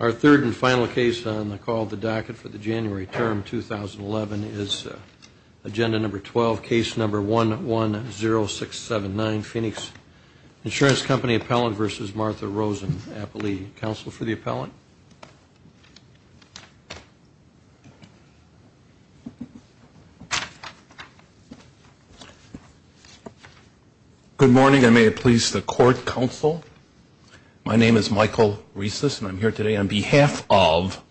Our third and final case on the call of the docket for the January term 2011 is agenda number 12 case number 1 1 0 6 7 9 Phoenix Insurance Company appellant versus Martha Rosen. Appellee, counsel for the appellant. Good morning I may please the court counsel. My name is Michael Reisness and I am here today on behalf of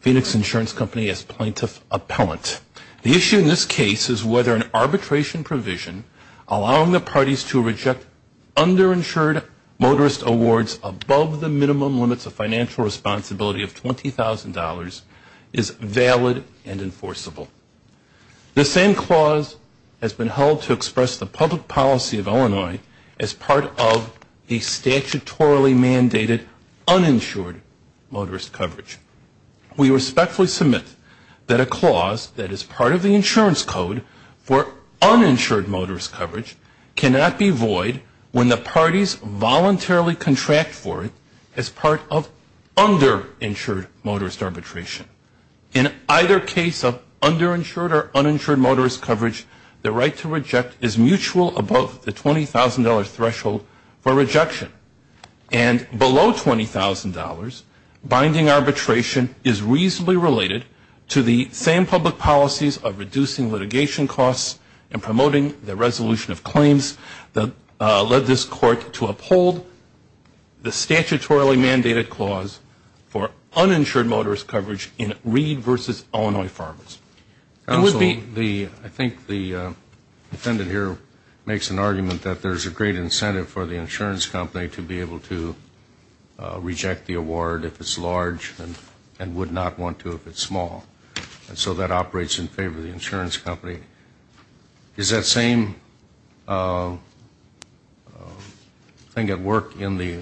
Phoenix Insurance Company as plaintiff appellant. The issue in this case is whether an arbitration provision allowing the parties to reject underinsured motorist awards above the minimum limits of financial responsibility of $20,000 is valid and enforceable. The same clause has been held to express the public policy of Illinois as part of the statutorily mandated uninsured motorist coverage. We respectfully submit that a clause that is part of the insurance code for uninsured motorist coverage cannot be void when the parties voluntarily contract for it as part of underinsured motorist arbitration. In either case of underinsured or uninsured motorist coverage the right to reject is mutual above the $20,000 threshold for rejection and below $20,000 binding arbitration is reasonably related to the same public policies of reducing litigation costs and promoting the resolution of claims that led this court to uphold the statutorily mandated clause for uninsured motorist coverage in Reed versus Illinois I think the defendant here makes an argument that there's a great incentive for the insurance company to be able to reject the award if it's large and would not want to if it's small. So that operates in favor of the insurance company. Is that same thing at work in the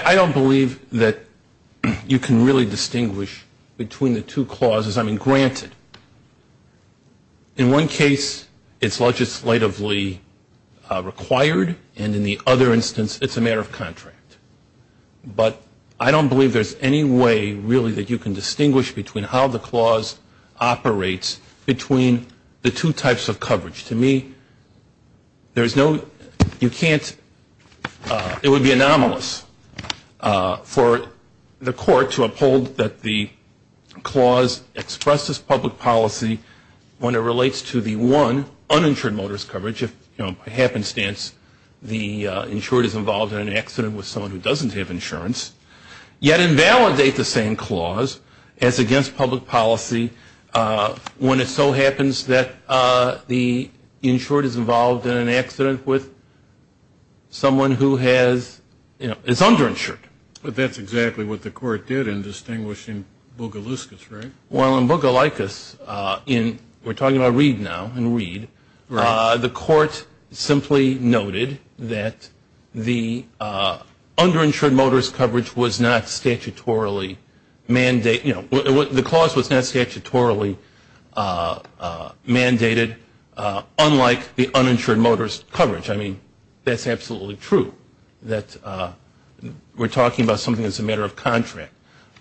I don't believe that you can really distinguish between the two clauses. I mean, granted, in one case it's legislatively required and in the other instance it's a matter of contract. But I don't believe there's any way really that you can distinguish between how the clause operates between the two types of coverage. To me, there's no you can't it would be anomalous for the court to uphold that the clause expresses public policy when it relates to the one uninsured motorist coverage if by happenstance the insured is involved in an accident with someone who When it so happens that the insured is involved in an accident with someone who has is underinsured. But that's exactly what the court did in distinguishing Bogaluskas, right? Well, in Bogalikas, we're talking about Reed now, in Reed, the court simply noted that the clause was not statutorily mandated unlike the uninsured motorist coverage. I mean, that's absolutely true that we're talking about something that's a matter of contract.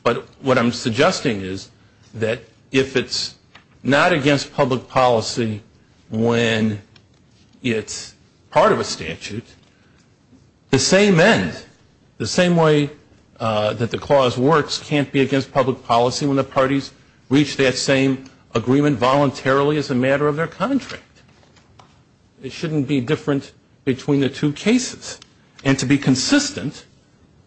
But what I'm suggesting is that if it's not against public policy when it's part of a statute, the same end, the same way that the clause works can't be against public policy when the parties reach that same agreement voluntarily as a matter of their contract. It shouldn't be different between the two cases. And to be consistent,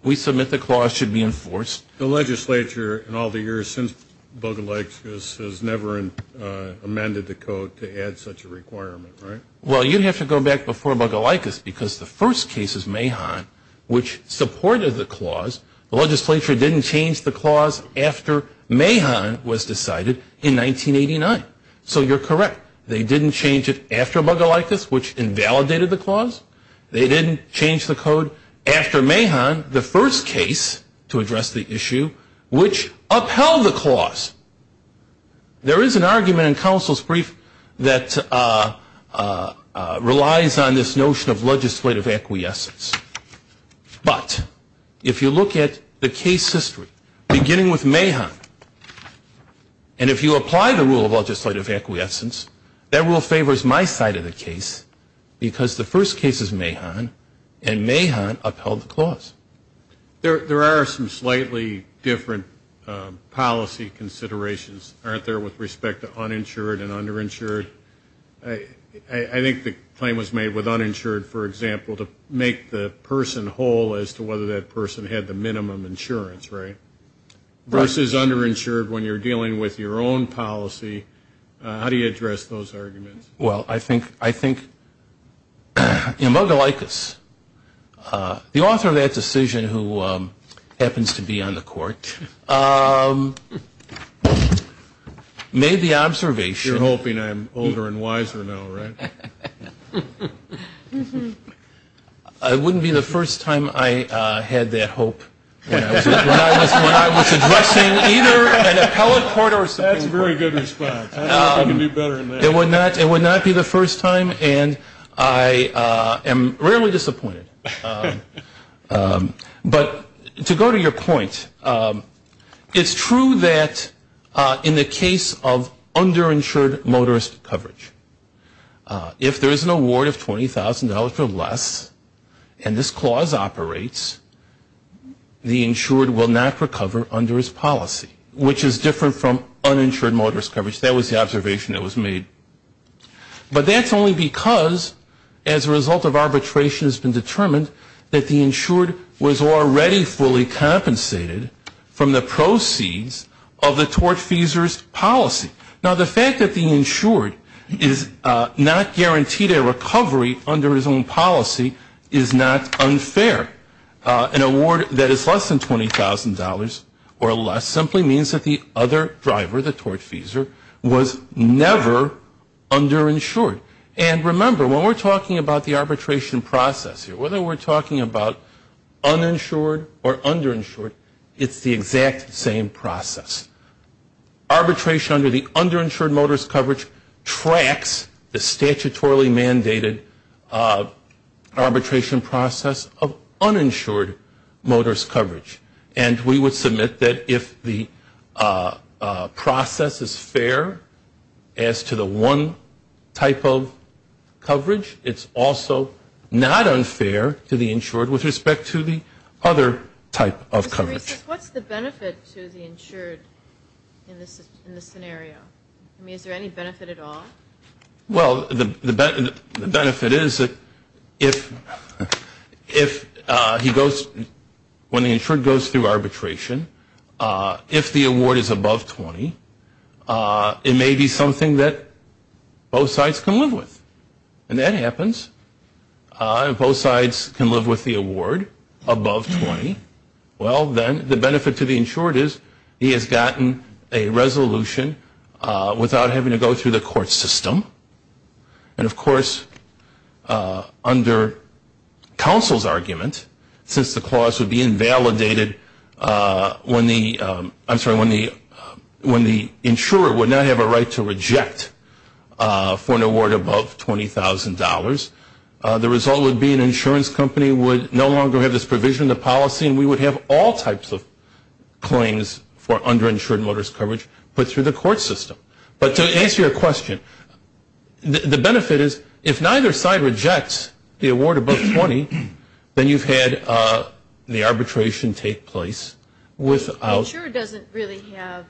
we submit the clause should be enforced. The legislature in all the years since Bogalikas has never amended the code to add such a requirement, right? Well, you'd have to go back before Bogalikas because the first case is Mahon, which supported the clause. The legislature didn't change the clause after Mahon was decided in 1989. So you're correct. They didn't change it after Bogalikas, which invalidated the clause. They didn't change the code after Mahon, the first case to address the issue, which upheld the clause. There is an argument in counsel's brief that relies on this notion of legislative acquiescence. But if you look at the case history, beginning with Mahon, and if you apply the rule of legislative acquiescence, that rule favors my side of the case because the first case is Mahon and Mahon upheld the clause. There are some slightly different policy considerations, aren't there, with respect to uninsured and underinsured? I think the claim was made with uninsured, for example, to make the person whole as to whether that person had the minimum insurance, right? Versus underinsured when you're dealing with your own policy. How do you address those arguments? Well, I think in Bogalikas, the author of that decision, who happens to be on the court, made the observation. You're hoping I'm older and wiser now, right? It wouldn't be the first time I had that hope when I was addressing either an appellate court or something. That's a very good response. I don't think I can do better than that. It would not be the first time, and I am rarely disappointed. But to go to your point, it's true that in the case of underinsured motorist coverage, if there is an award of $20,000 or less, and this clause operates, the insured will not recover under his policy, which is different from But that's only because, as a result of arbitration has been determined, that the insured was already fully compensated from the proceeds of the tortfeasor's policy. Now, the fact that the insured is not guaranteed a recovery under his own policy is not unfair. An award that is less than $20,000 or less simply means that the other driver, the tortfeasor, was never underinsured. And remember, when we're talking about the arbitration process here, whether we're talking about uninsured or underinsured, it's the exact same process. Arbitration under the underinsured motorist coverage tracks the statutorily mandated arbitration process of uninsured motorist coverage. And we would submit that if the process is fair as to the one type of coverage, it's also not unfair to the insured with respect to the other type of coverage. What's the benefit to the insured in this scenario? I mean, is there any benefit at all? Well, the benefit is that if he goes, when the insured goes through arbitration, if the award is above $20,000, it may be something that both sides can live with. And that happens. If both sides can live with the award above $20,000, well, then the benefit to the insured is he has gotten a resolution without having to go through the court system. And of course, under counsel's argument, since the clause would be invalidated when the insurer would not have a right to reject for an award above $20,000, the result would be an insurance company would no longer have this provision in the policy, and we would have all types of claims for underinsured motorist coverage put through the court system. But to answer your question, the benefit is if neither side rejects the award above $20,000, then you've had the arbitration take place without. The insurer doesn't really have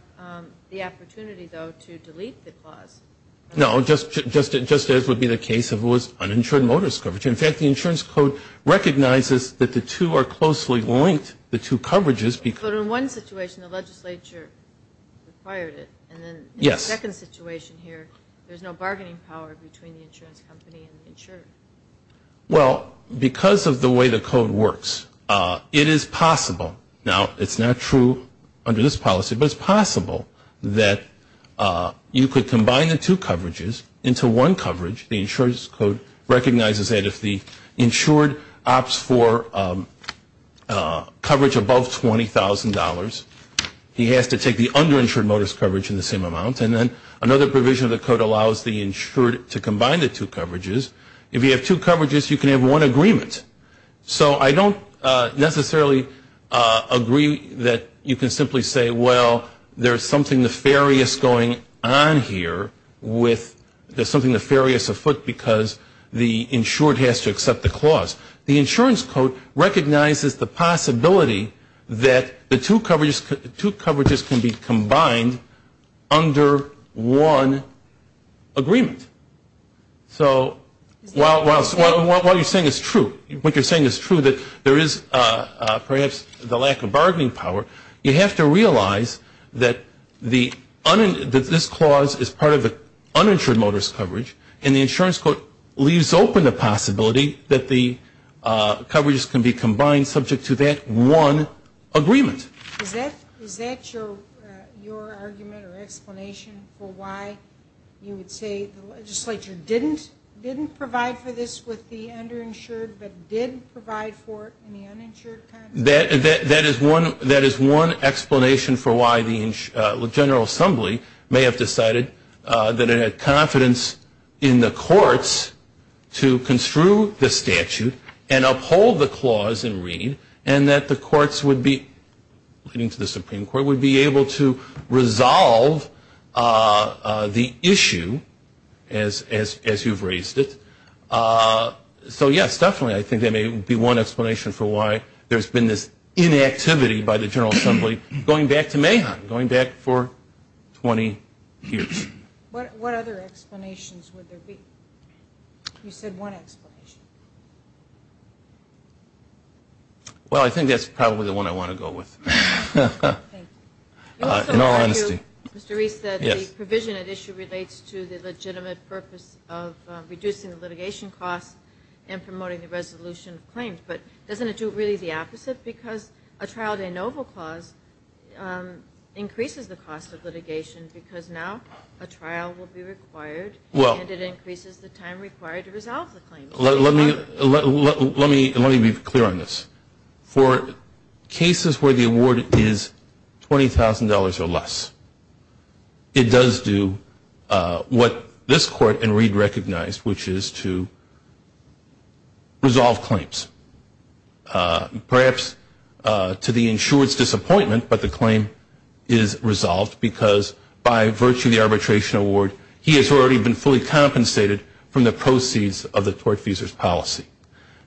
the opportunity, though, to delete the clause. No, just as would be the case if it was uninsured motorist coverage. In fact, the insurance code recognizes that the two are closely linked, the two coverages. But in one situation, the legislature required it, and then in the second situation here, there's no bargaining power between the insurance company and the insurer. Well, because of the way the code works, it is possible. Now, it's not true under this policy, but it's possible that you could combine the two coverages. The insured opts for coverage above $20,000. He has to take the underinsured motorist coverage in the same amount, and then another provision of the code allows the insured to combine the two coverages. If you have two coverages, you can have one agreement. So I don't necessarily agree that you can simply say, well, there's something nefarious going on here with, there's something nefarious afoot, because the insured has to accept the clause. The insurance code recognizes the possibility that the two coverages can be combined under one agreement. So while you're saying it's true, what you're saying is true, that there is perhaps the lack of bargaining power, you have to realize that this clause is part of the uninsured motorist coverage, and the insurance code leaves open the possibility that the coverages can be combined subject to that one agreement. Is that your argument or explanation for why you would say the legislature didn't provide for this with the underinsured, but did provide for it with the uninsured? That is one explanation for why the General Assembly may have decided that it had confidence in the courts to construe the statute and uphold the clause in reading, and that the courts would be, leading to the Supreme Court, would be able to resolve the issue as you've raised it. So yes, definitely, I think there may be one explanation for why there's been this inactivity by the General Assembly going back to Mahon, going back for 20 years. What other explanations would there be? You said one explanation. Well, I think that's probably the one I want to go with, in all honesty. Mr. Reese said the provision at issue relates to the legitimate purpose of reducing litigation costs and promoting the resolution of claims. But doesn't it do really the opposite? Because a trial de novo clause increases the cost of litigation, because now a trial will be required, and it increases the time required to resolve the claim. Let me be clear on this. For cases where the award is $20,000 or less, and it's not a trial, and it's not a litigation, and it's not a trial, and it's not a litigation, and it's not a litigation, and it's not a litigation, and it's not a litigation, and it's not a litigation. It does do what this Court in Reed recognized, which is to resolve claims. Perhaps to the insurer's disappointment, but the claim is resolved, because by virtue of the arbitration award, he has already been fully compensated from the proceeds of the tortfeasor's policy.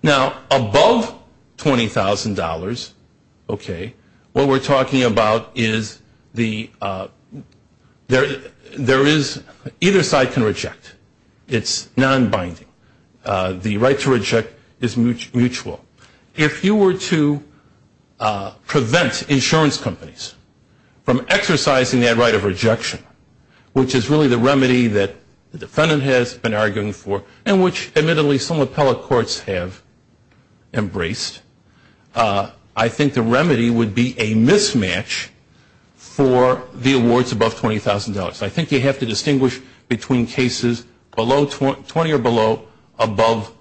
Now, above $20,000, okay, what we're talking about is the $20,000 claim. There is, either side can reject. It's non-binding. The right to reject is mutual. If you were to prevent insurance companies from exercising that right of rejection, which is really the remedy that the defendant has been arguing for, and which, admittedly, some appellate courts have embraced, I think the remedy would be a mismatch for the awards of $20,000. I think you have to distinguish between cases 20 or below above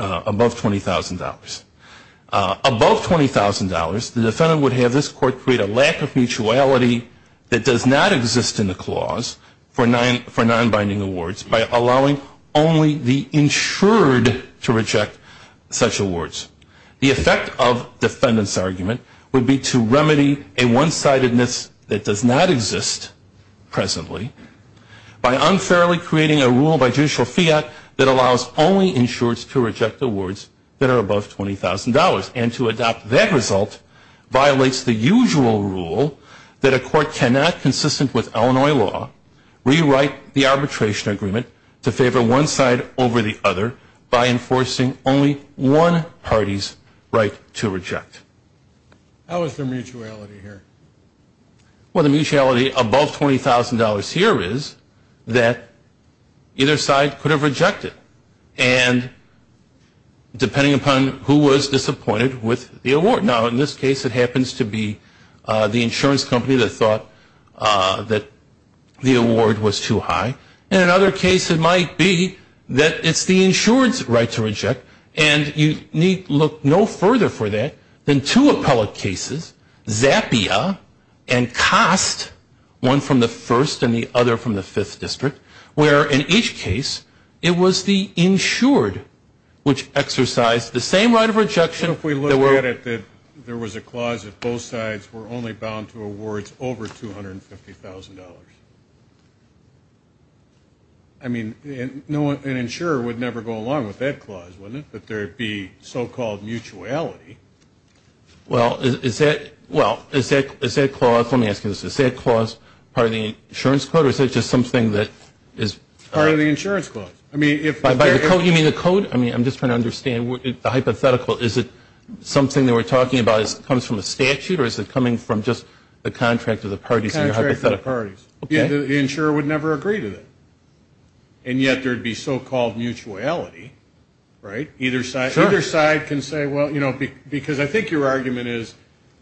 $20,000. Above $20,000, the defendant would have this Court create a lack of mutuality that does not exist in the clause for non-binding awards by allowing only the insured to reject such awards. The effect of the defendant's argument would be to remedy a one-sidedness that does not exist presently by unfairly creating a rule by judicial fiat that allows only insureds to reject awards that are above $20,000. And to adopt that result violates the usual rule that a court cannot, consistent with Illinois law, rewrite the arbitration agreement to favor one side over the other by enforcing only one part of the law. That would be a breach of the parties' right to reject. How is there mutuality here? Well, the mutuality above $20,000 here is that either side could have rejected, and depending upon who was disappointed with the award. Now, in this case, it happens to be the insurance company that thought that the award was too high. In another case, it might be that it's the insured's right to reject, and you need look no further for that than two appellate cases, Zappia and Cost, one from the first and the other from the fifth district, where in each case, it was the insured which exercised the same right of rejection. If we look at it, there was a clause that both sides were only bound to awards over $250,000. I mean, an insurer would never go along with that clause, wouldn't it, that there be so-called mutuality? Well, is that clause, let me ask you this, is that clause part of the insurance code, or is that just something that is... Part of the insurance clause. By the code, you mean the code? I mean, I'm just trying to understand the hypothetical. Is it something that we're talking about comes from a statute, or is it coming from just the contract of the parties? Contract of the parties. The insurer would never agree to that, and yet there would be so-called mutuality, right? Sure. Either side can say, well, you know, because I think your argument is,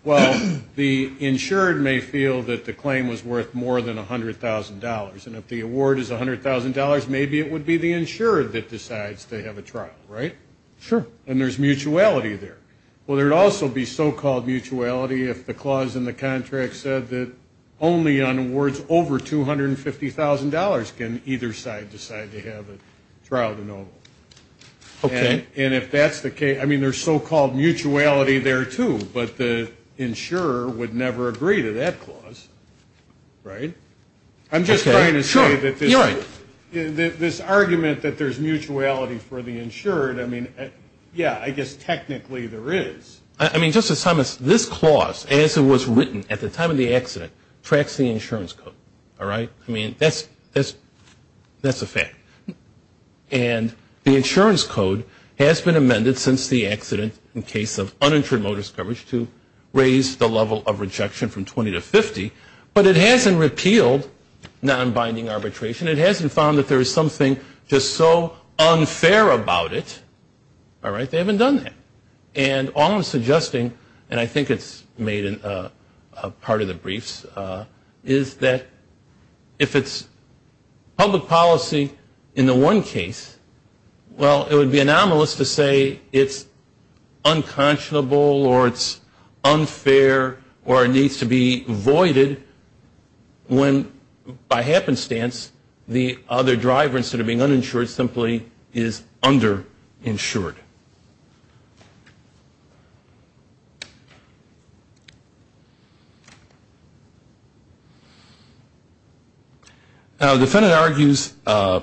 well, the insured may feel that the claim was worth more than $100,000, and if the award is $100,000, maybe it would be the insured that decides to have a trial, right? Sure. And there's mutuality there. Well, there would also be so-called mutuality if the clause in the contract said that only on awards over $250,000 can either side decide to have a trial de novo. Okay. And if that's the case, I mean, there's so-called mutuality there, too, but the insurer would never agree to that clause, right? I'm just trying to say that this argument that there's mutuality for the insured, I mean, yeah, I guess technically there is. I mean, Justice Thomas, this clause, as it was written at the time of the accident, tracks the insurance code. All right? I mean, that's a fact. And the insurance code has been amended since the accident in case of uninsured motorist coverage to raise the level of rejection from 20 to 50. But it hasn't repealed non-binding arbitration. It hasn't found that there is something just so unfair about it. All right? In the one case, well, it would be anomalous to say it's unconscionable or it's unfair or it needs to be voided when, by happenstance, the other driver, instead of being uninsured, simply is underinsured. Now, the defendant argues or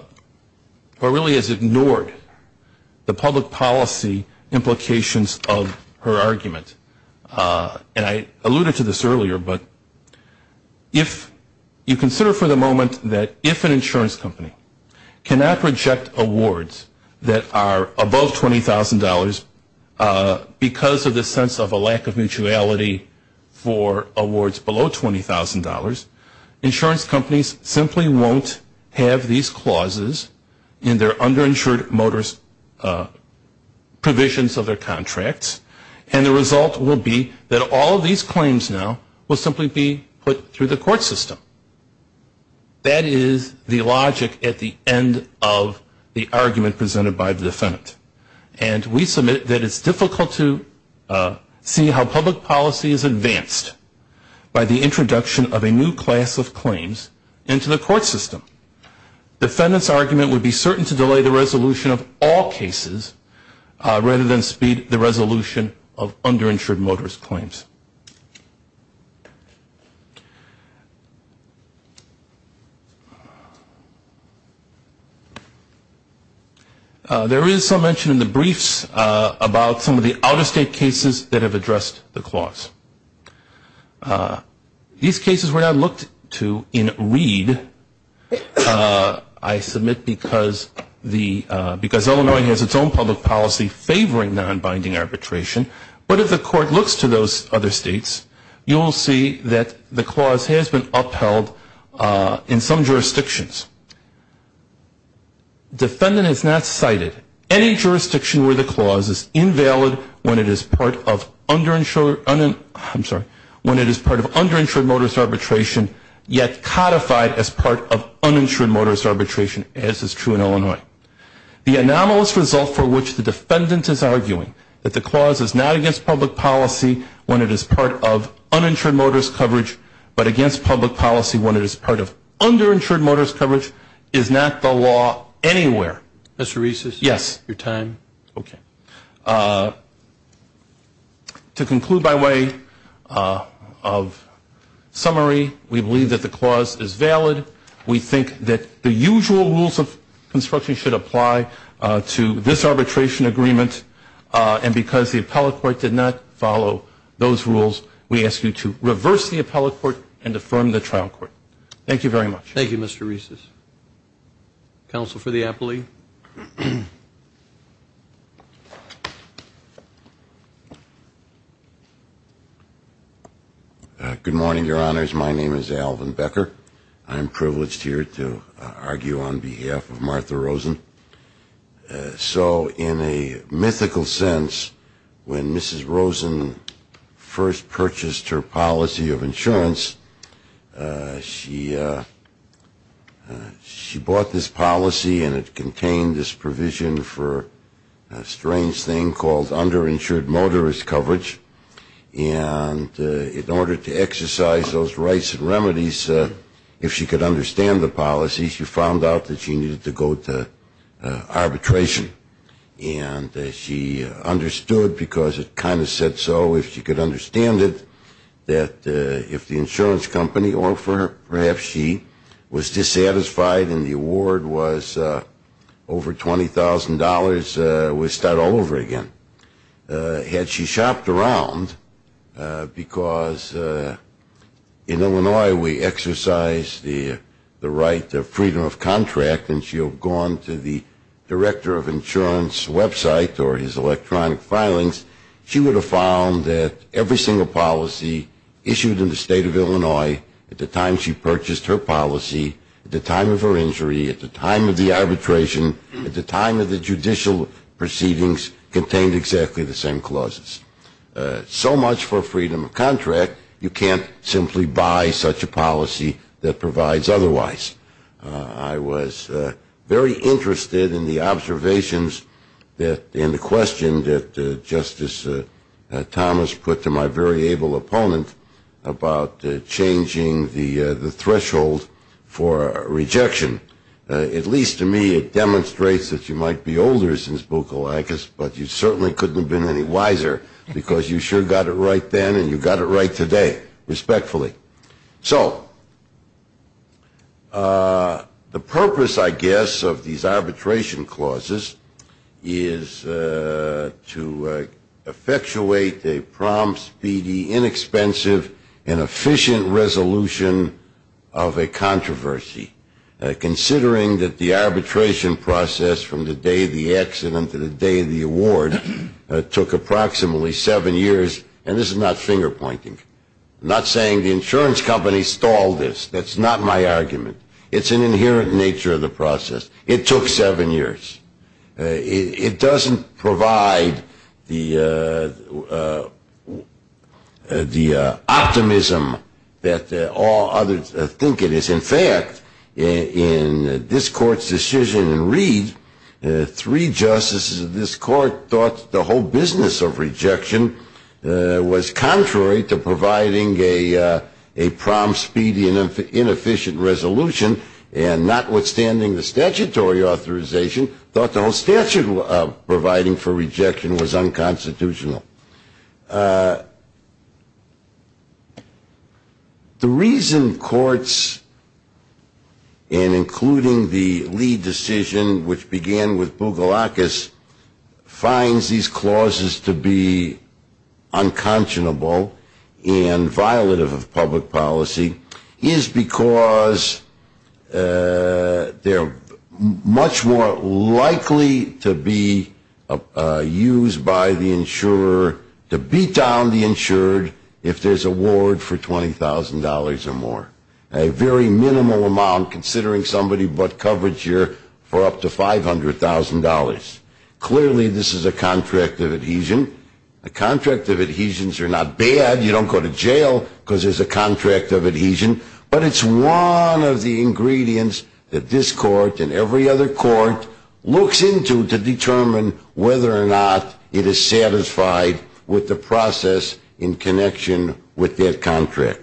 really has ignored the public policy implications of her argument. And I alluded to this earlier, but if you consider for the moment that if an insurance company cannot reject awards that are above $20,000, because of the sense of a lack of mutuality for awards below $20,000, insurance companies simply won't have these clauses in their underinsured motorist provisions of their contracts. And the result will be that all of these claims now will simply be put through the court system. That is the logic at the end of the argument presented by the defendant. We submit that it's difficult to see how public policy is advanced by the introduction of a new class of claims into the court system. Defendant's argument would be certain to delay the resolution of all cases rather than speed the resolution of underinsured motorist claims. There is some mention in the briefs about some of the out-of-state cases that have addressed the clause. These cases were not looked to in read, I submit, because Illinois has its own public policy favoring non-binding arbitration. But if the court looks to those other states, you will see that the clause has been upheld in some jurisdictions. Defendant has not cited any jurisdiction where the clause is invalid when it is part of underinsured motorist arbitration, yet codified as part of uninsured motorist arbitration, as is true in Illinois. The anomalous result for which the defendant is arguing that the clause is not against public policy when it is part of uninsured motorist coverage, but against public policy when it is part of underinsured motorist coverage, is not the law anywhere. Mr. Reese, your time. To conclude by way of summary, we believe that the clause is valid. We think that the usual rules of construction should apply to this arbitration agreement. And because the appellate court did not follow those rules, we ask you to reverse the appellate court and affirm the trial court. Thank you very much. Thank you, Mr. Reese. Good morning, Your Honors. My name is Alvin Becker. I am privileged here to argue on behalf of Martha Rosen. So in a mythical sense, when Mrs. Rosen first purchased her policy of insurance, she bought this policy and it contained this provision for a strange thing called underinsured motorist coverage. And in order to exercise those rights and remedies, if she could understand the policy, she found out that she needed to go to arbitration. And she understood because it kind of said so, if she could understand it, that if the insurance company, or perhaps she, was dissatisfied and the award was over $20,000, we'd start all over again. Had she shopped around, because in Illinois we exercise the right of freedom of contract, and she would have gone to the director of insurance website or his electronic filings, she would have found that every single policy issued in the state of Illinois at the time she purchased her policy, at the time of her injury, at the time of the arbitration, at the time of the judicial proceedings contained exactly the same clauses. So much for freedom of contract. You can't simply buy such a policy that provides otherwise. I was very interested in the observations and the question that Justice Thomas put to my very able opponent about changing the threshold for rejection. At least to me it demonstrates that you might be older since Bukalakis, but you certainly couldn't have been any wiser because you sure got it right then and you got it right today, respectfully. So the purpose, I guess, of these arbitration clauses is to effectuate a prompt, speedy, inexpensive and efficient resolution of a controversy, considering that the arbitration process from the day of the accident to the day of the award took approximately seven years, and this is not finger pointing. I'm not saying the insurance companies stalled this. That's not my argument. It's an inherent nature of the process. It took seven years. It doesn't provide the optimism that all others think it is. In fact, in this court's decision in Reed, three justices of this court thought the whole business of rejection was contrary to providing a prompt, speedy and inefficient resolution, and notwithstanding the statutory authorization, thought the whole statute providing for rejection was unconstitutional. The reason courts, and including the Lee decision, which began with Bukalakis, finds these clauses to be unconscionable and violative of public policy is because they're much more likely to be used by the insurer to beat down the insured if there's a ward for $20,000 or more. A very minimal amount considering somebody bought coverage here for up to $500,000. Clearly this is a contract of adhesion. A contract of adhesions are not bad. You don't go to jail because there's a contract of adhesion. But it's one of the ingredients that this court and every other court looks into to determine whether or not it is satisfied with the process in connection with that contract.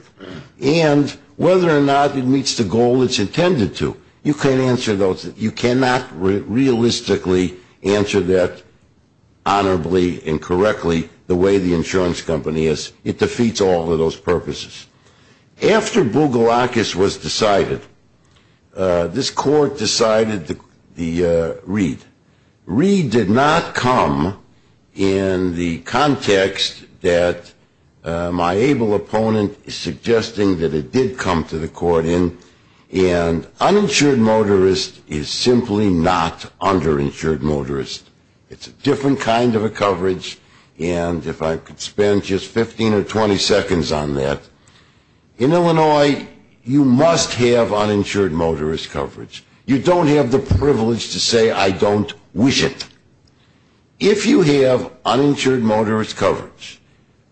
And whether or not it meets the goal it's intended to. You can't answer those. You cannot realistically answer that honorably and correctly the way the insurance company is. It defeats all of those purposes. After Bukalakis was decided, this court decided the Reed. Reed did not come in the context that my able opponent is suggesting that it did come to the court in. And uninsured motorist is simply not underinsured motorist. It's a different kind of a coverage. And if I could spend just 15 or 20 seconds on that. In Illinois, you must have uninsured motorist coverage. You don't have the privilege to say I don't wish it. If you have uninsured motorist coverage,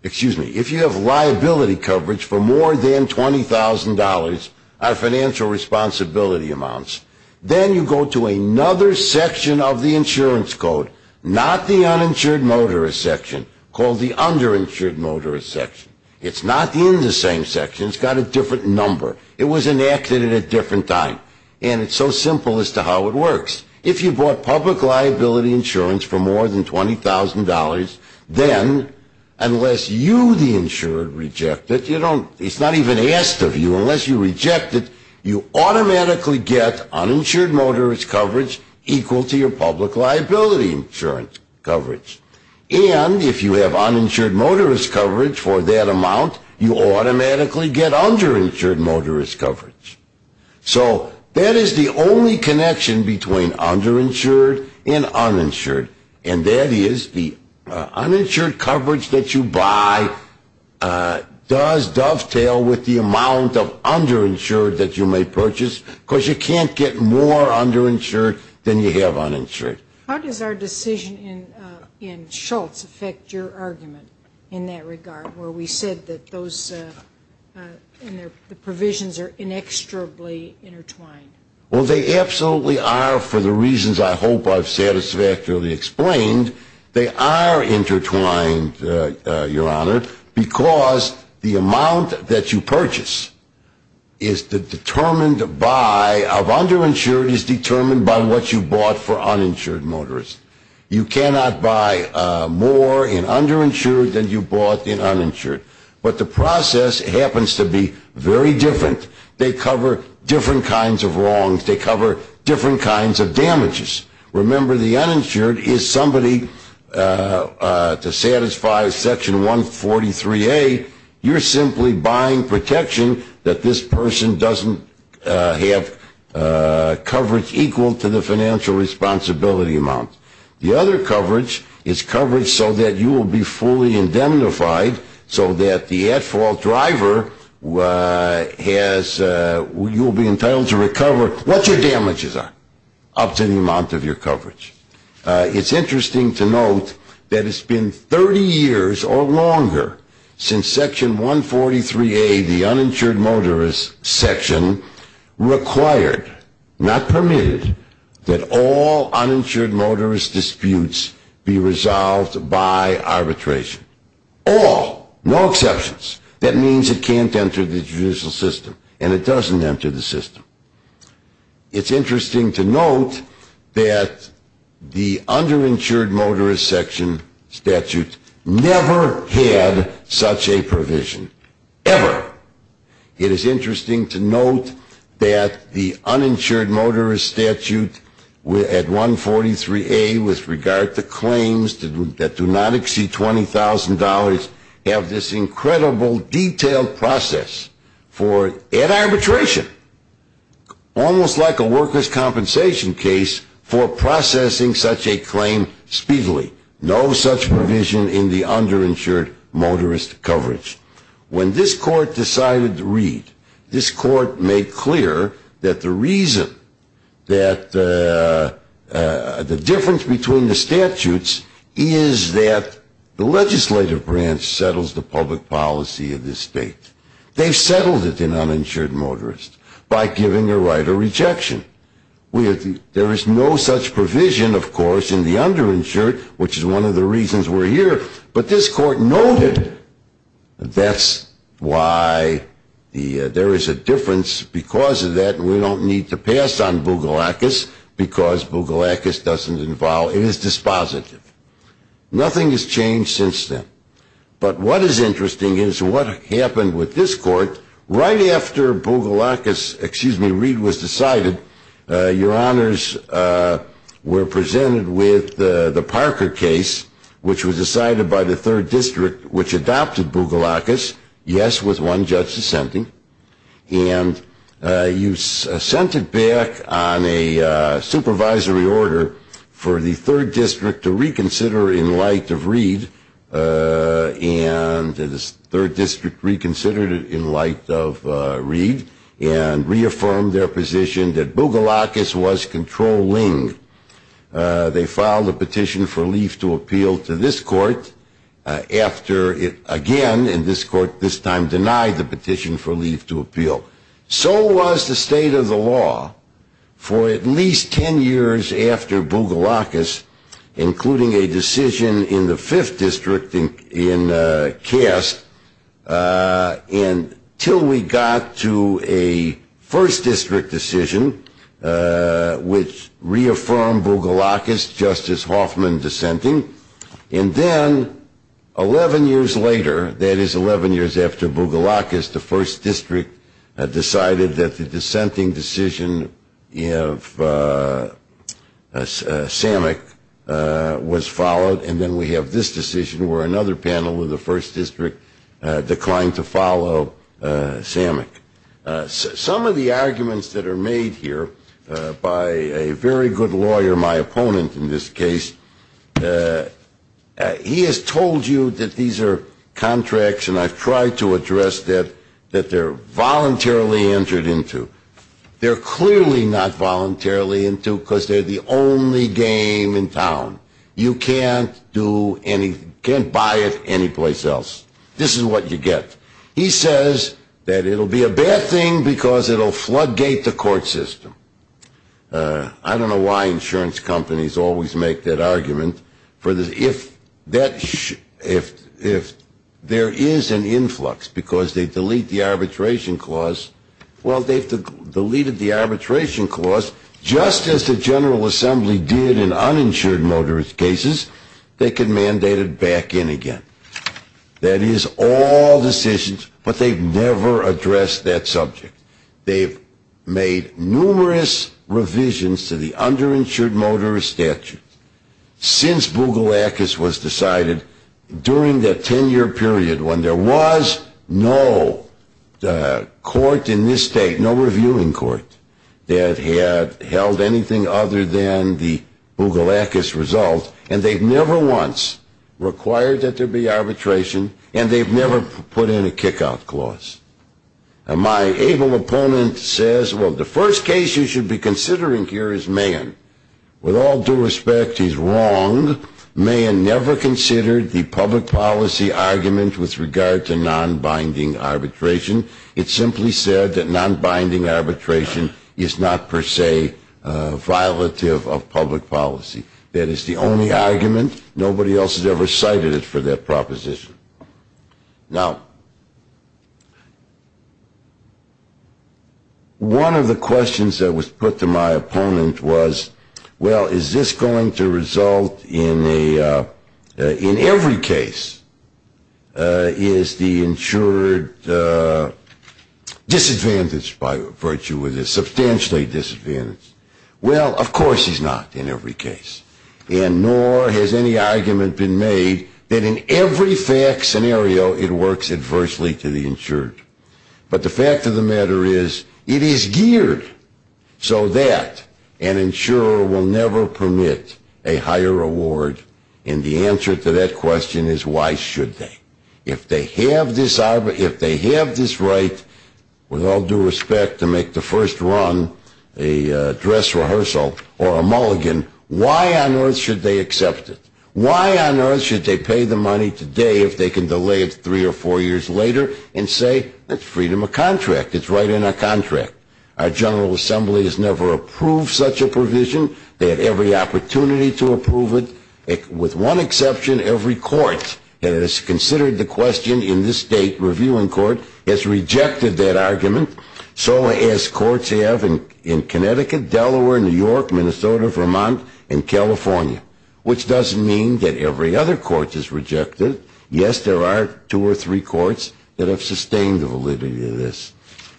excuse me, if you have liability coverage for more than $20,000, our financial responsibility amounts, then you go to another section of the insurance code, not the uninsured motorist section, called the underinsured motorist section. It's not in the same section. It's got a different number. It was enacted at a different time. And it's so simple as to how it works. If you bought public liability insurance for more than $20,000, then unless you, the insured, reject it, it's not even asked of you, unless you reject it, you automatically get uninsured motorist coverage equal to your public liability insurance coverage. And if you have uninsured motorist coverage for that amount, you automatically get underinsured motorist coverage. So that is the only connection between underinsured and uninsured. And that is the uninsured coverage that you buy does dovetail with the amount of underinsured that you may purchase, because you can't get more underinsured than you have uninsured. How does our decision in Schultz affect your argument in that regard, where we said that those provisions are inextricably intertwined? Well, they absolutely are, for the reasons I hope I've satisfactorily explained. They are intertwined, Your Honor, because the amount that you purchase is determined by, of underinsured, is determined by what you bought for uninsured motorist. You cannot buy more in underinsured than you bought in uninsured. But the process happens to be very different. They cover different kinds of wrongs. They cover different kinds of damages. Remember, the uninsured is somebody to satisfy Section 143A, you're simply buying protection that this person doesn't have coverage equal to the financial responsibility amount. The other coverage is coverage so that you will be fully indemnified, so that the at-fault driver has, you will be entitled to recover what your damages are up to the amount of your coverage. It's interesting to note that it's been 30 years or longer since Section 143A, the uninsured motorist section, required, not permitted, that all uninsured motorist disputes be resolved by arbitration. All, no exceptions. That means it can't enter the judicial system, and it doesn't enter the system. It's interesting to note that the underinsured motorist section statute never had such a provision, ever. It is interesting to note that the uninsured motorist statute at 143A, with regard to claims that do not exceed $20,000, have this incredible detailed process for, at arbitration, almost like a workers' compensation case for processing such a claim speedily. No such provision in the underinsured motorist coverage. When this court decided to read, this court made clear that the reason that the difference between the statutes is that the legislative branch settles the public policy of the state. They've settled it in uninsured motorist by giving a right of rejection. There is no such provision, of course, in the underinsured, which is one of the reasons we're here. But this court noted that's why there is a difference because of that, and we don't need to pass on Bougalakas because Bougalakas doesn't involve, it is dispositive. Nothing has changed since then. But what is interesting is what happened with this court right after Bougalakas, excuse me, read was decided. Your honors were presented with the Parker case, which was decided by the third district, which adopted Bougalakas. Yes, with one judge dissenting. And you sent it back on a supervisory order for the third district to reconsider in light of read, and the third district reconsidered it in light of read and reaffirmed their position that Bougalakas was controlling. They filed a petition for leave to appeal to this court after, again, and this court this time denied the petition for leave to appeal. So was the state of the law for at least 10 years after Bougalakas, including a decision in the fifth district in Cass until we got to a first district decision, which reaffirmed Bougalakas, Justice Hoffman dissenting. And then 11 years later, that is 11 years after Bougalakas, the first district decided that the dissenting decision of Samick was followed, and then we have this decision where another panel of the first district declined to follow Samick. Some of the arguments that are made here by a very good lawyer, my opponent in this case, he has told you that these are contracts, and I've tried to address that, that they're voluntarily entered into. They're clearly not voluntarily into because they're the only game in town. You can't buy it anyplace else. This is what you get. He says that it'll be a bad thing because it'll floodgate the court system. I don't know why insurance companies always make that argument. If there is an influx because they delete the arbitration clause, well, they've deleted the arbitration clause just as the General Assembly did in uninsured motorist cases. They can mandate it back in again. That is all decisions, but they've never addressed that subject. They've made numerous revisions to the underinsured motorist statute. Since Bougalakas was decided, during that 10-year period when there was no court in this state, no reviewing court that had held anything other than the Bougalakas result, and they've never once required that there be arbitration, and they've never put in a kick-out clause. My able opponent says, well, the first case you should be considering here is Mahan. With all due respect, he's wrong. Mahan never considered the public policy argument with regard to non-binding arbitration. It simply said that non-binding arbitration is not per se violative of public policy. That is the only argument. Nobody else has ever cited it for that proposition. Now, one of the questions that was put to my opponent was, well, is this going to result in every case is the insured disadvantaged by virtue of this, substantially disadvantaged. Well, of course it's not in every case. And nor has any argument been made that in every fact scenario it works adversely to the insured. But the fact of the matter is, it is geared so that an insurer will never permit a higher reward. And the answer to that question is, why should they? If they have this right, with all due respect, to make the first run a dress rehearsal or a mulligan, why on earth should they accept it? Why on earth should they pay the money today if they can delay it three or four years later and say, that's freedom of contract. It's right in our contract. Our General Assembly has never approved such a provision. They had every opportunity to approve it. With one exception, every court that has considered the question in this state reviewing court has rejected that argument. So as courts have in Connecticut, Delaware, New York, Minnesota, Vermont, and California, which doesn't mean that every other court has rejected it. Yes, there are two or three courts that have sustained the validity of this.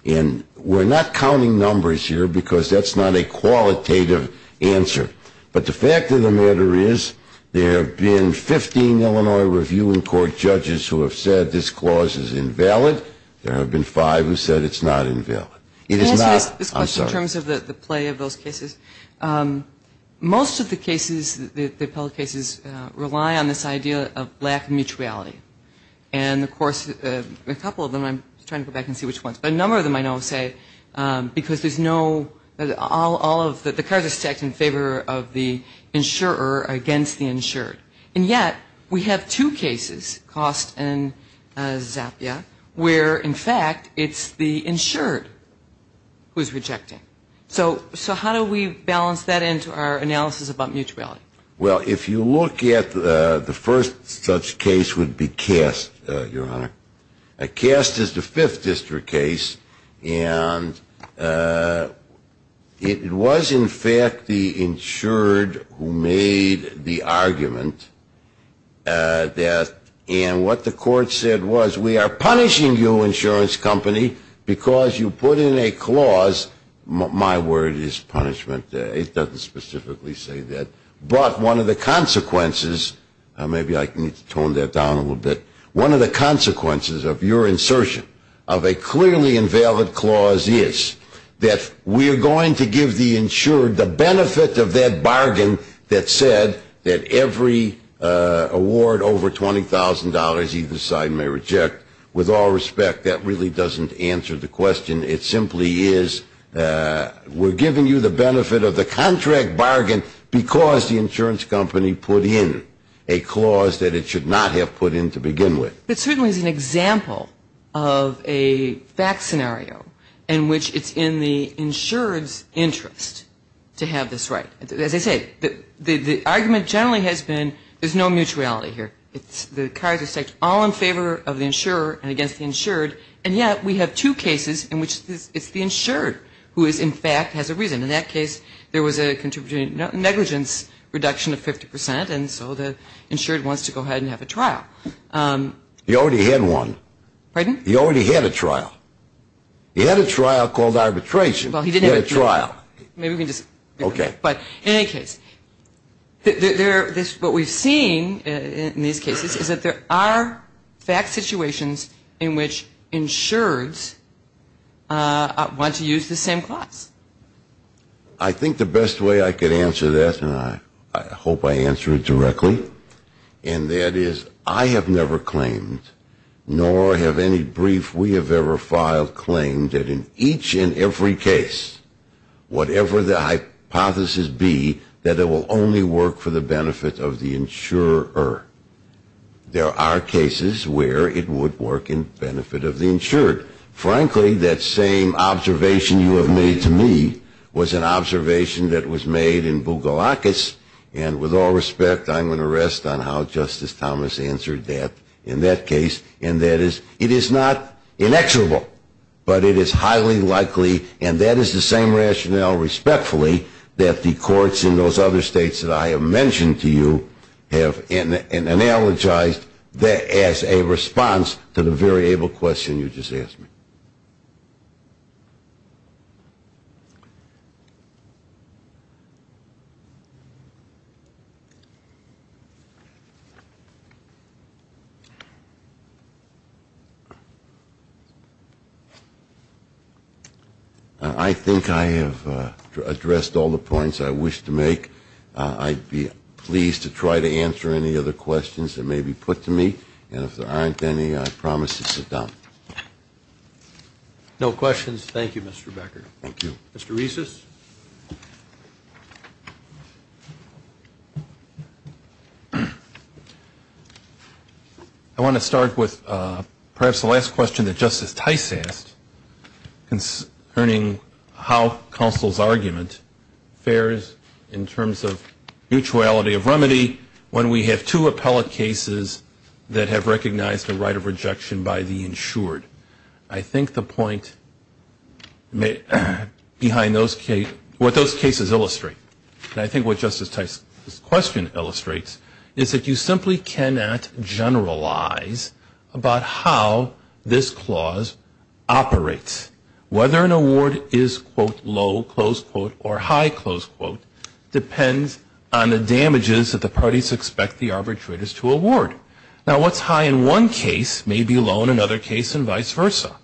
And we're not counting numbers here because that's not a qualitative answer. But the fact of the matter is, there have been 15 Illinois reviewing court judges who have said this clause is invalid. There have been five who said it's not invalid. I'm sorry. Can I answer this question in terms of the play of those cases? Most of the cases, the appellate cases, rely on this idea of black mutuality. And, of course, a couple of them, I'm trying to go back and see which ones. A number of them, I know, say because there's no, all of the cards are stacked in favor of the insurer against the insured. And yet we have two cases, Cost and Zappia, where, in fact, it's the insured who's rejecting. So how do we balance that into our analysis about mutuality? Well, if you look at the first such case would be Cast, Your Honor. Cast is the Fifth District case. And it was, in fact, the insured who made the argument that, and what the court said was, we are punishing you, insurance company, because you put in a clause, my word, is punishment. It doesn't specifically say that. But one of the consequences, maybe I need to tone that down a little bit. One of the consequences of your insertion of a clearly invalid clause is that we are going to give the insured the benefit of that bargain that said that every award over $20,000 either side may reject. With all respect, that really doesn't answer the question. It simply is we're giving you the benefit of the contract bargain because the insurance company put in a clause that it should not have put in to begin with. But certainly it's an example of a fact scenario in which it's in the insured's interest to have this right. As I said, the argument generally has been there's no mutuality here. The cards are stacked all in favor of the insurer and against the insured. And yet we have two cases in which it's the insured who is, in fact, has a reason. In that case, there was a negligence reduction of 50%. And so the insured wants to go ahead and have a trial. He already had one. Pardon? He already had a trial. He had a trial called arbitration. Well, he didn't have a trial. Maybe we can just. Okay. But in any case, what we've seen in these cases is that there are fact situations in which insureds want to use the same clause. I think the best way I could answer that, and I hope I answer it directly, and that is I have never claimed, nor have any brief we have ever filed claimed that in each and every case, whatever the hypothesis be, that it will only work for the benefit of the insurer, there are cases where it would work in benefit of the insured. Frankly, that same observation you have made to me was an observation that was made in Bugalakas. And with all respect, I'm going to rest on how Justice Thomas answered that. In that case, and that is it is not inexorable, but it is highly likely, and that is the same rationale respectfully that the courts in those other states that I have mentioned to you have analogized that as a response to the very able question you just asked me. I think I have addressed all the points I wish to make. I'd be pleased to try to answer any other questions that may be put to me. And if there aren't any, I promise to sit down. No questions. Thank you, Mr. Becker. Thank you. Mr. Reeses. I want to start with perhaps the last question that Justice Tice asked concerning how counsel's argument fares in terms of mutuality of remedy when we have two appellate cases that have recognized a right of rejection by the insured. I think the point behind what those cases illustrate, and I think what Justice Tice's question illustrates, is that you simply cannot generalize about how this clause operates. Whether an award is, quote, low, close quote, or high, close quote, depends on the damages that the parties expect the arbitrators to award. Now, what's high in one case may be low in another case and vice versa.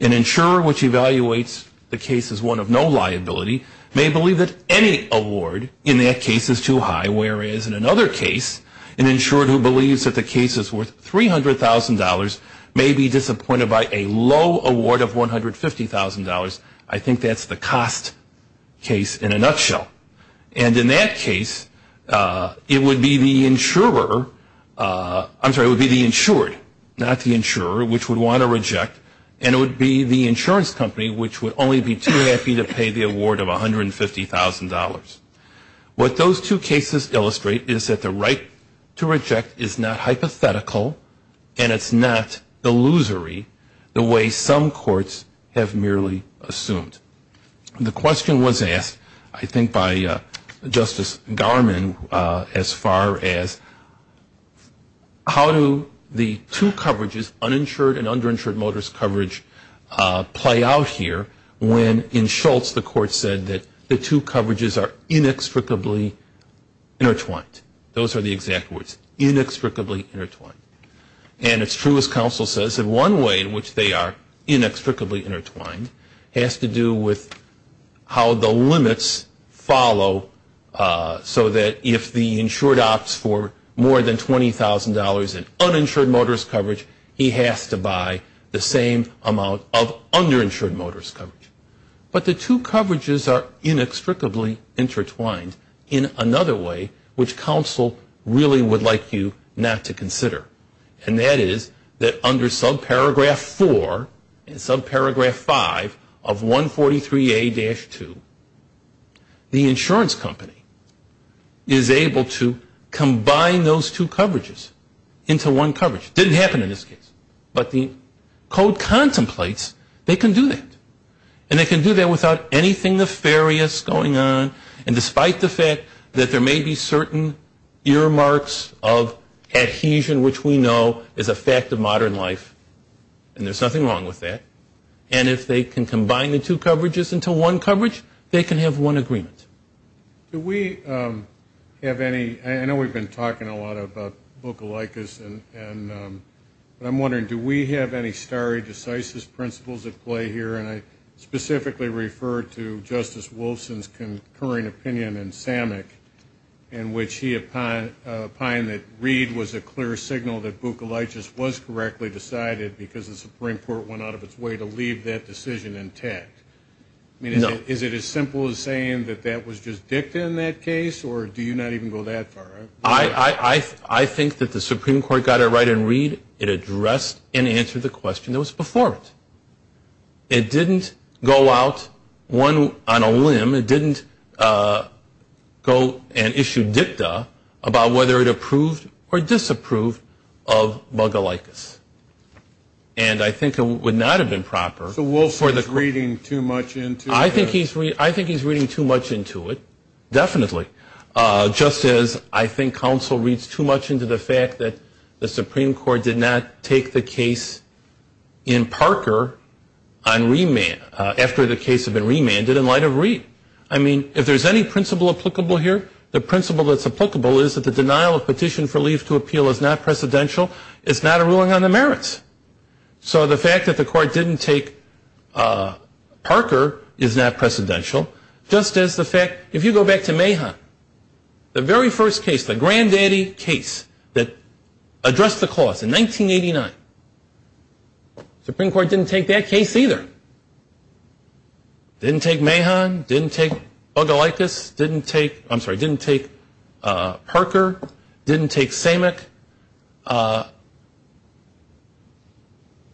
An insurer which evaluates the case as one of no liability may believe that any award in that case is too high, whereas in another case, an insurer who believes that the case is worth $300,000 may be disappointed by a low award of $150,000. I think that's the cost case in a nutshell. And in that case, it would be the insured, not the insurer, which would want to reject, and it would be the insurance company which would only be too happy to pay the award of $150,000. What those two cases illustrate is that the right to reject is not hypothetical and it's not illusory the way some courts have merely assumed. The question was asked, I think by Justice Garmon, as far as how do the two coverages, uninsured and underinsured motorist coverage, play out here, when in Schultz the court said that the two coverages are inextricably intertwined. Those are the exact words, inextricably intertwined. And it's true, as counsel says, that one way in which they are inextricably intertwined has to do with how the limits follow so that if the insured opts for more than $20,000 in uninsured motorist coverage, he has to buy the same amount of underinsured motorist coverage. But the two coverages are inextricably intertwined in another way, which counsel really would like you not to consider. And that is that under subparagraph 4 and subparagraph 5 of 143A-2, the insurance company is able to combine those two coverages into one coverage. Didn't happen in this case. But the code contemplates they can do that. And they can do that without anything nefarious going on, and despite the fact that there may be certain earmarks of adhesion, which we know is a fact of modern life, and there's nothing wrong with that. And if they can combine the two coverages into one coverage, they can have one agreement. Do we have any ñ I know we've been talking a lot about buccaliches, but I'm wondering do we have any stare decisis principles at play here? And I specifically refer to Justice Wolfson's concurring opinion in SAMIC in which he opined that Reed was a clear signal that buccaliches was correctly decided because the Supreme Court went out of its way to leave that decision intact. I mean, is it as simple as saying that that was just dicta in that case, or do you not even go that far? I think that the Supreme Court got it right in Reed. It addressed and answered the question that was before it. It didn't go out on a limb. It didn't go and issue dicta about whether it approved or disapproved of buccaliches. And I think it would not have been proper. So Wolfson is reading too much into it? I think he's reading too much into it, definitely, just as I think counsel reads too much into the fact that the Supreme Court did not take the case in Parker after the case had been remanded in light of Reed. I mean, if there's any principle applicable here, the principle that's applicable is that the denial of petition for leave to appeal is not precedential. It's not a ruling on the merits. So the fact that the court didn't take Parker is not precedential, just as the fact, if you go back to Mahan, the very first case, the granddaddy case that addressed the clause in 1989, the Supreme Court didn't take that case either. Didn't take Mahan. Didn't take buccaliches. Didn't take Parker. Didn't take Samick.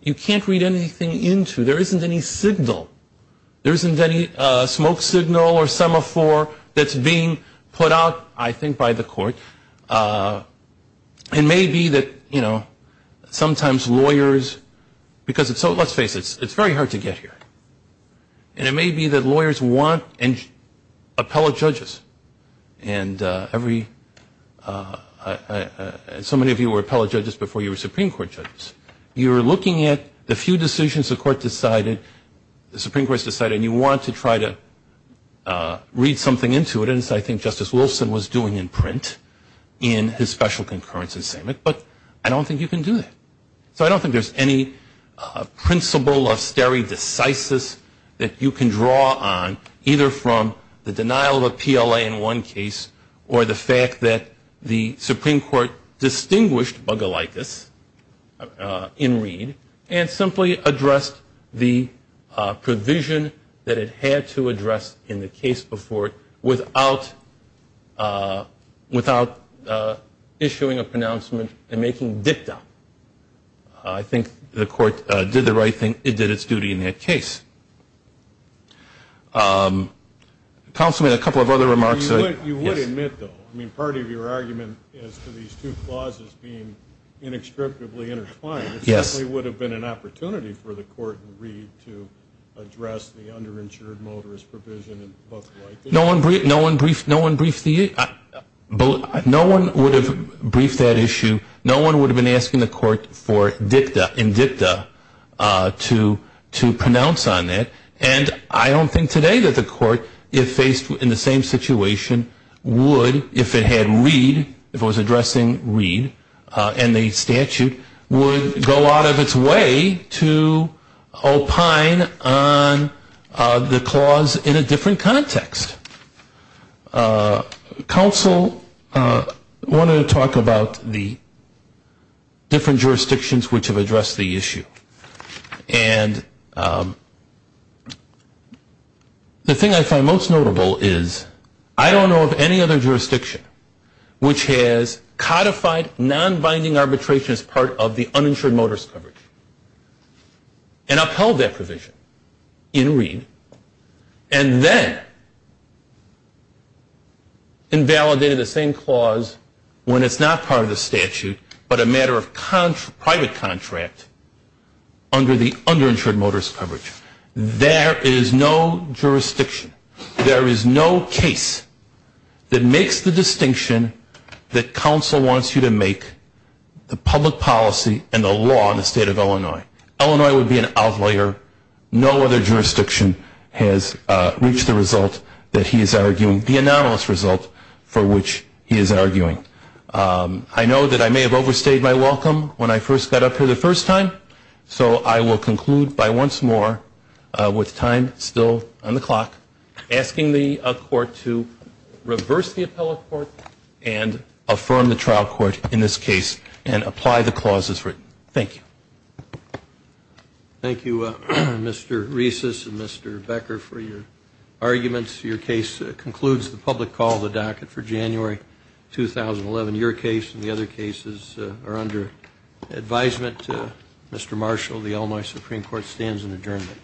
You can't read anything into it. There isn't any signal. There isn't any smoke signal or semaphore that's being put out, I think, by the court. It may be that, you know, sometimes lawyers, because it's so, let's face it, it's very hard to get here. And it may be that lawyers want appellate judges. And so many of you were appellate judges before you were Supreme Court judges. You're looking at the few decisions the Supreme Court has decided, and you want to try to read something into it, as I think Justice Wilson was doing in print in his special concurrence in Samick, but I don't think you can do that. So I don't think there's any principle of stare decisis that you can draw on, either from the denial of a PLA in one case or the fact that the Supreme Court distinguished buccaliches in read and simply addressed the provision that it had to address in the case before it without issuing a pronouncement and making dicta. I think the court did the right thing. It did its duty in that case. Counsel made a couple of other remarks. You would admit, though, I mean, part of your argument as to these two clauses being inextricably intertwined, it simply would have been an opportunity for the court in read to address the underinsured motorist provision in buccaliches. No one would have briefed that issue. No one would have been asking the court for dicta and dicta to pronounce on that. And I don't think today that the court, if faced in the same situation, would, if it had read, if it was addressing read and the statute, would go out of its way to opine on the clause in a different context. Counsel wanted to talk about the different jurisdictions which have addressed the issue. And the thing I find most notable is I don't know of any other jurisdiction which has codified nonbinding arbitration as part of the uninsured motorist coverage and upheld that provision in read and then invalidated the same clause when it's not part of the statute but a matter of private contract under the underinsured motorist coverage. There is no jurisdiction. There is no case that makes the distinction that counsel wants you to make the public policy and the law in the state of Illinois. Illinois would be an outlier. No other jurisdiction has reached the result that he is arguing, the anomalous result for which he is arguing. I know that I may have overstayed my welcome when I first got up here the first time, so I will conclude by once more, with time still on the clock, asking the court to reverse the appellate court and affirm the trial court in this case and apply the clauses written. Thank you. Thank you, Mr. Reeses and Mr. Becker, for your arguments. Your case concludes the public call of the docket for January 2011. Your case and the other cases are under advisement. Mr. Marshall, the Illinois Supreme Court stands in adjournment.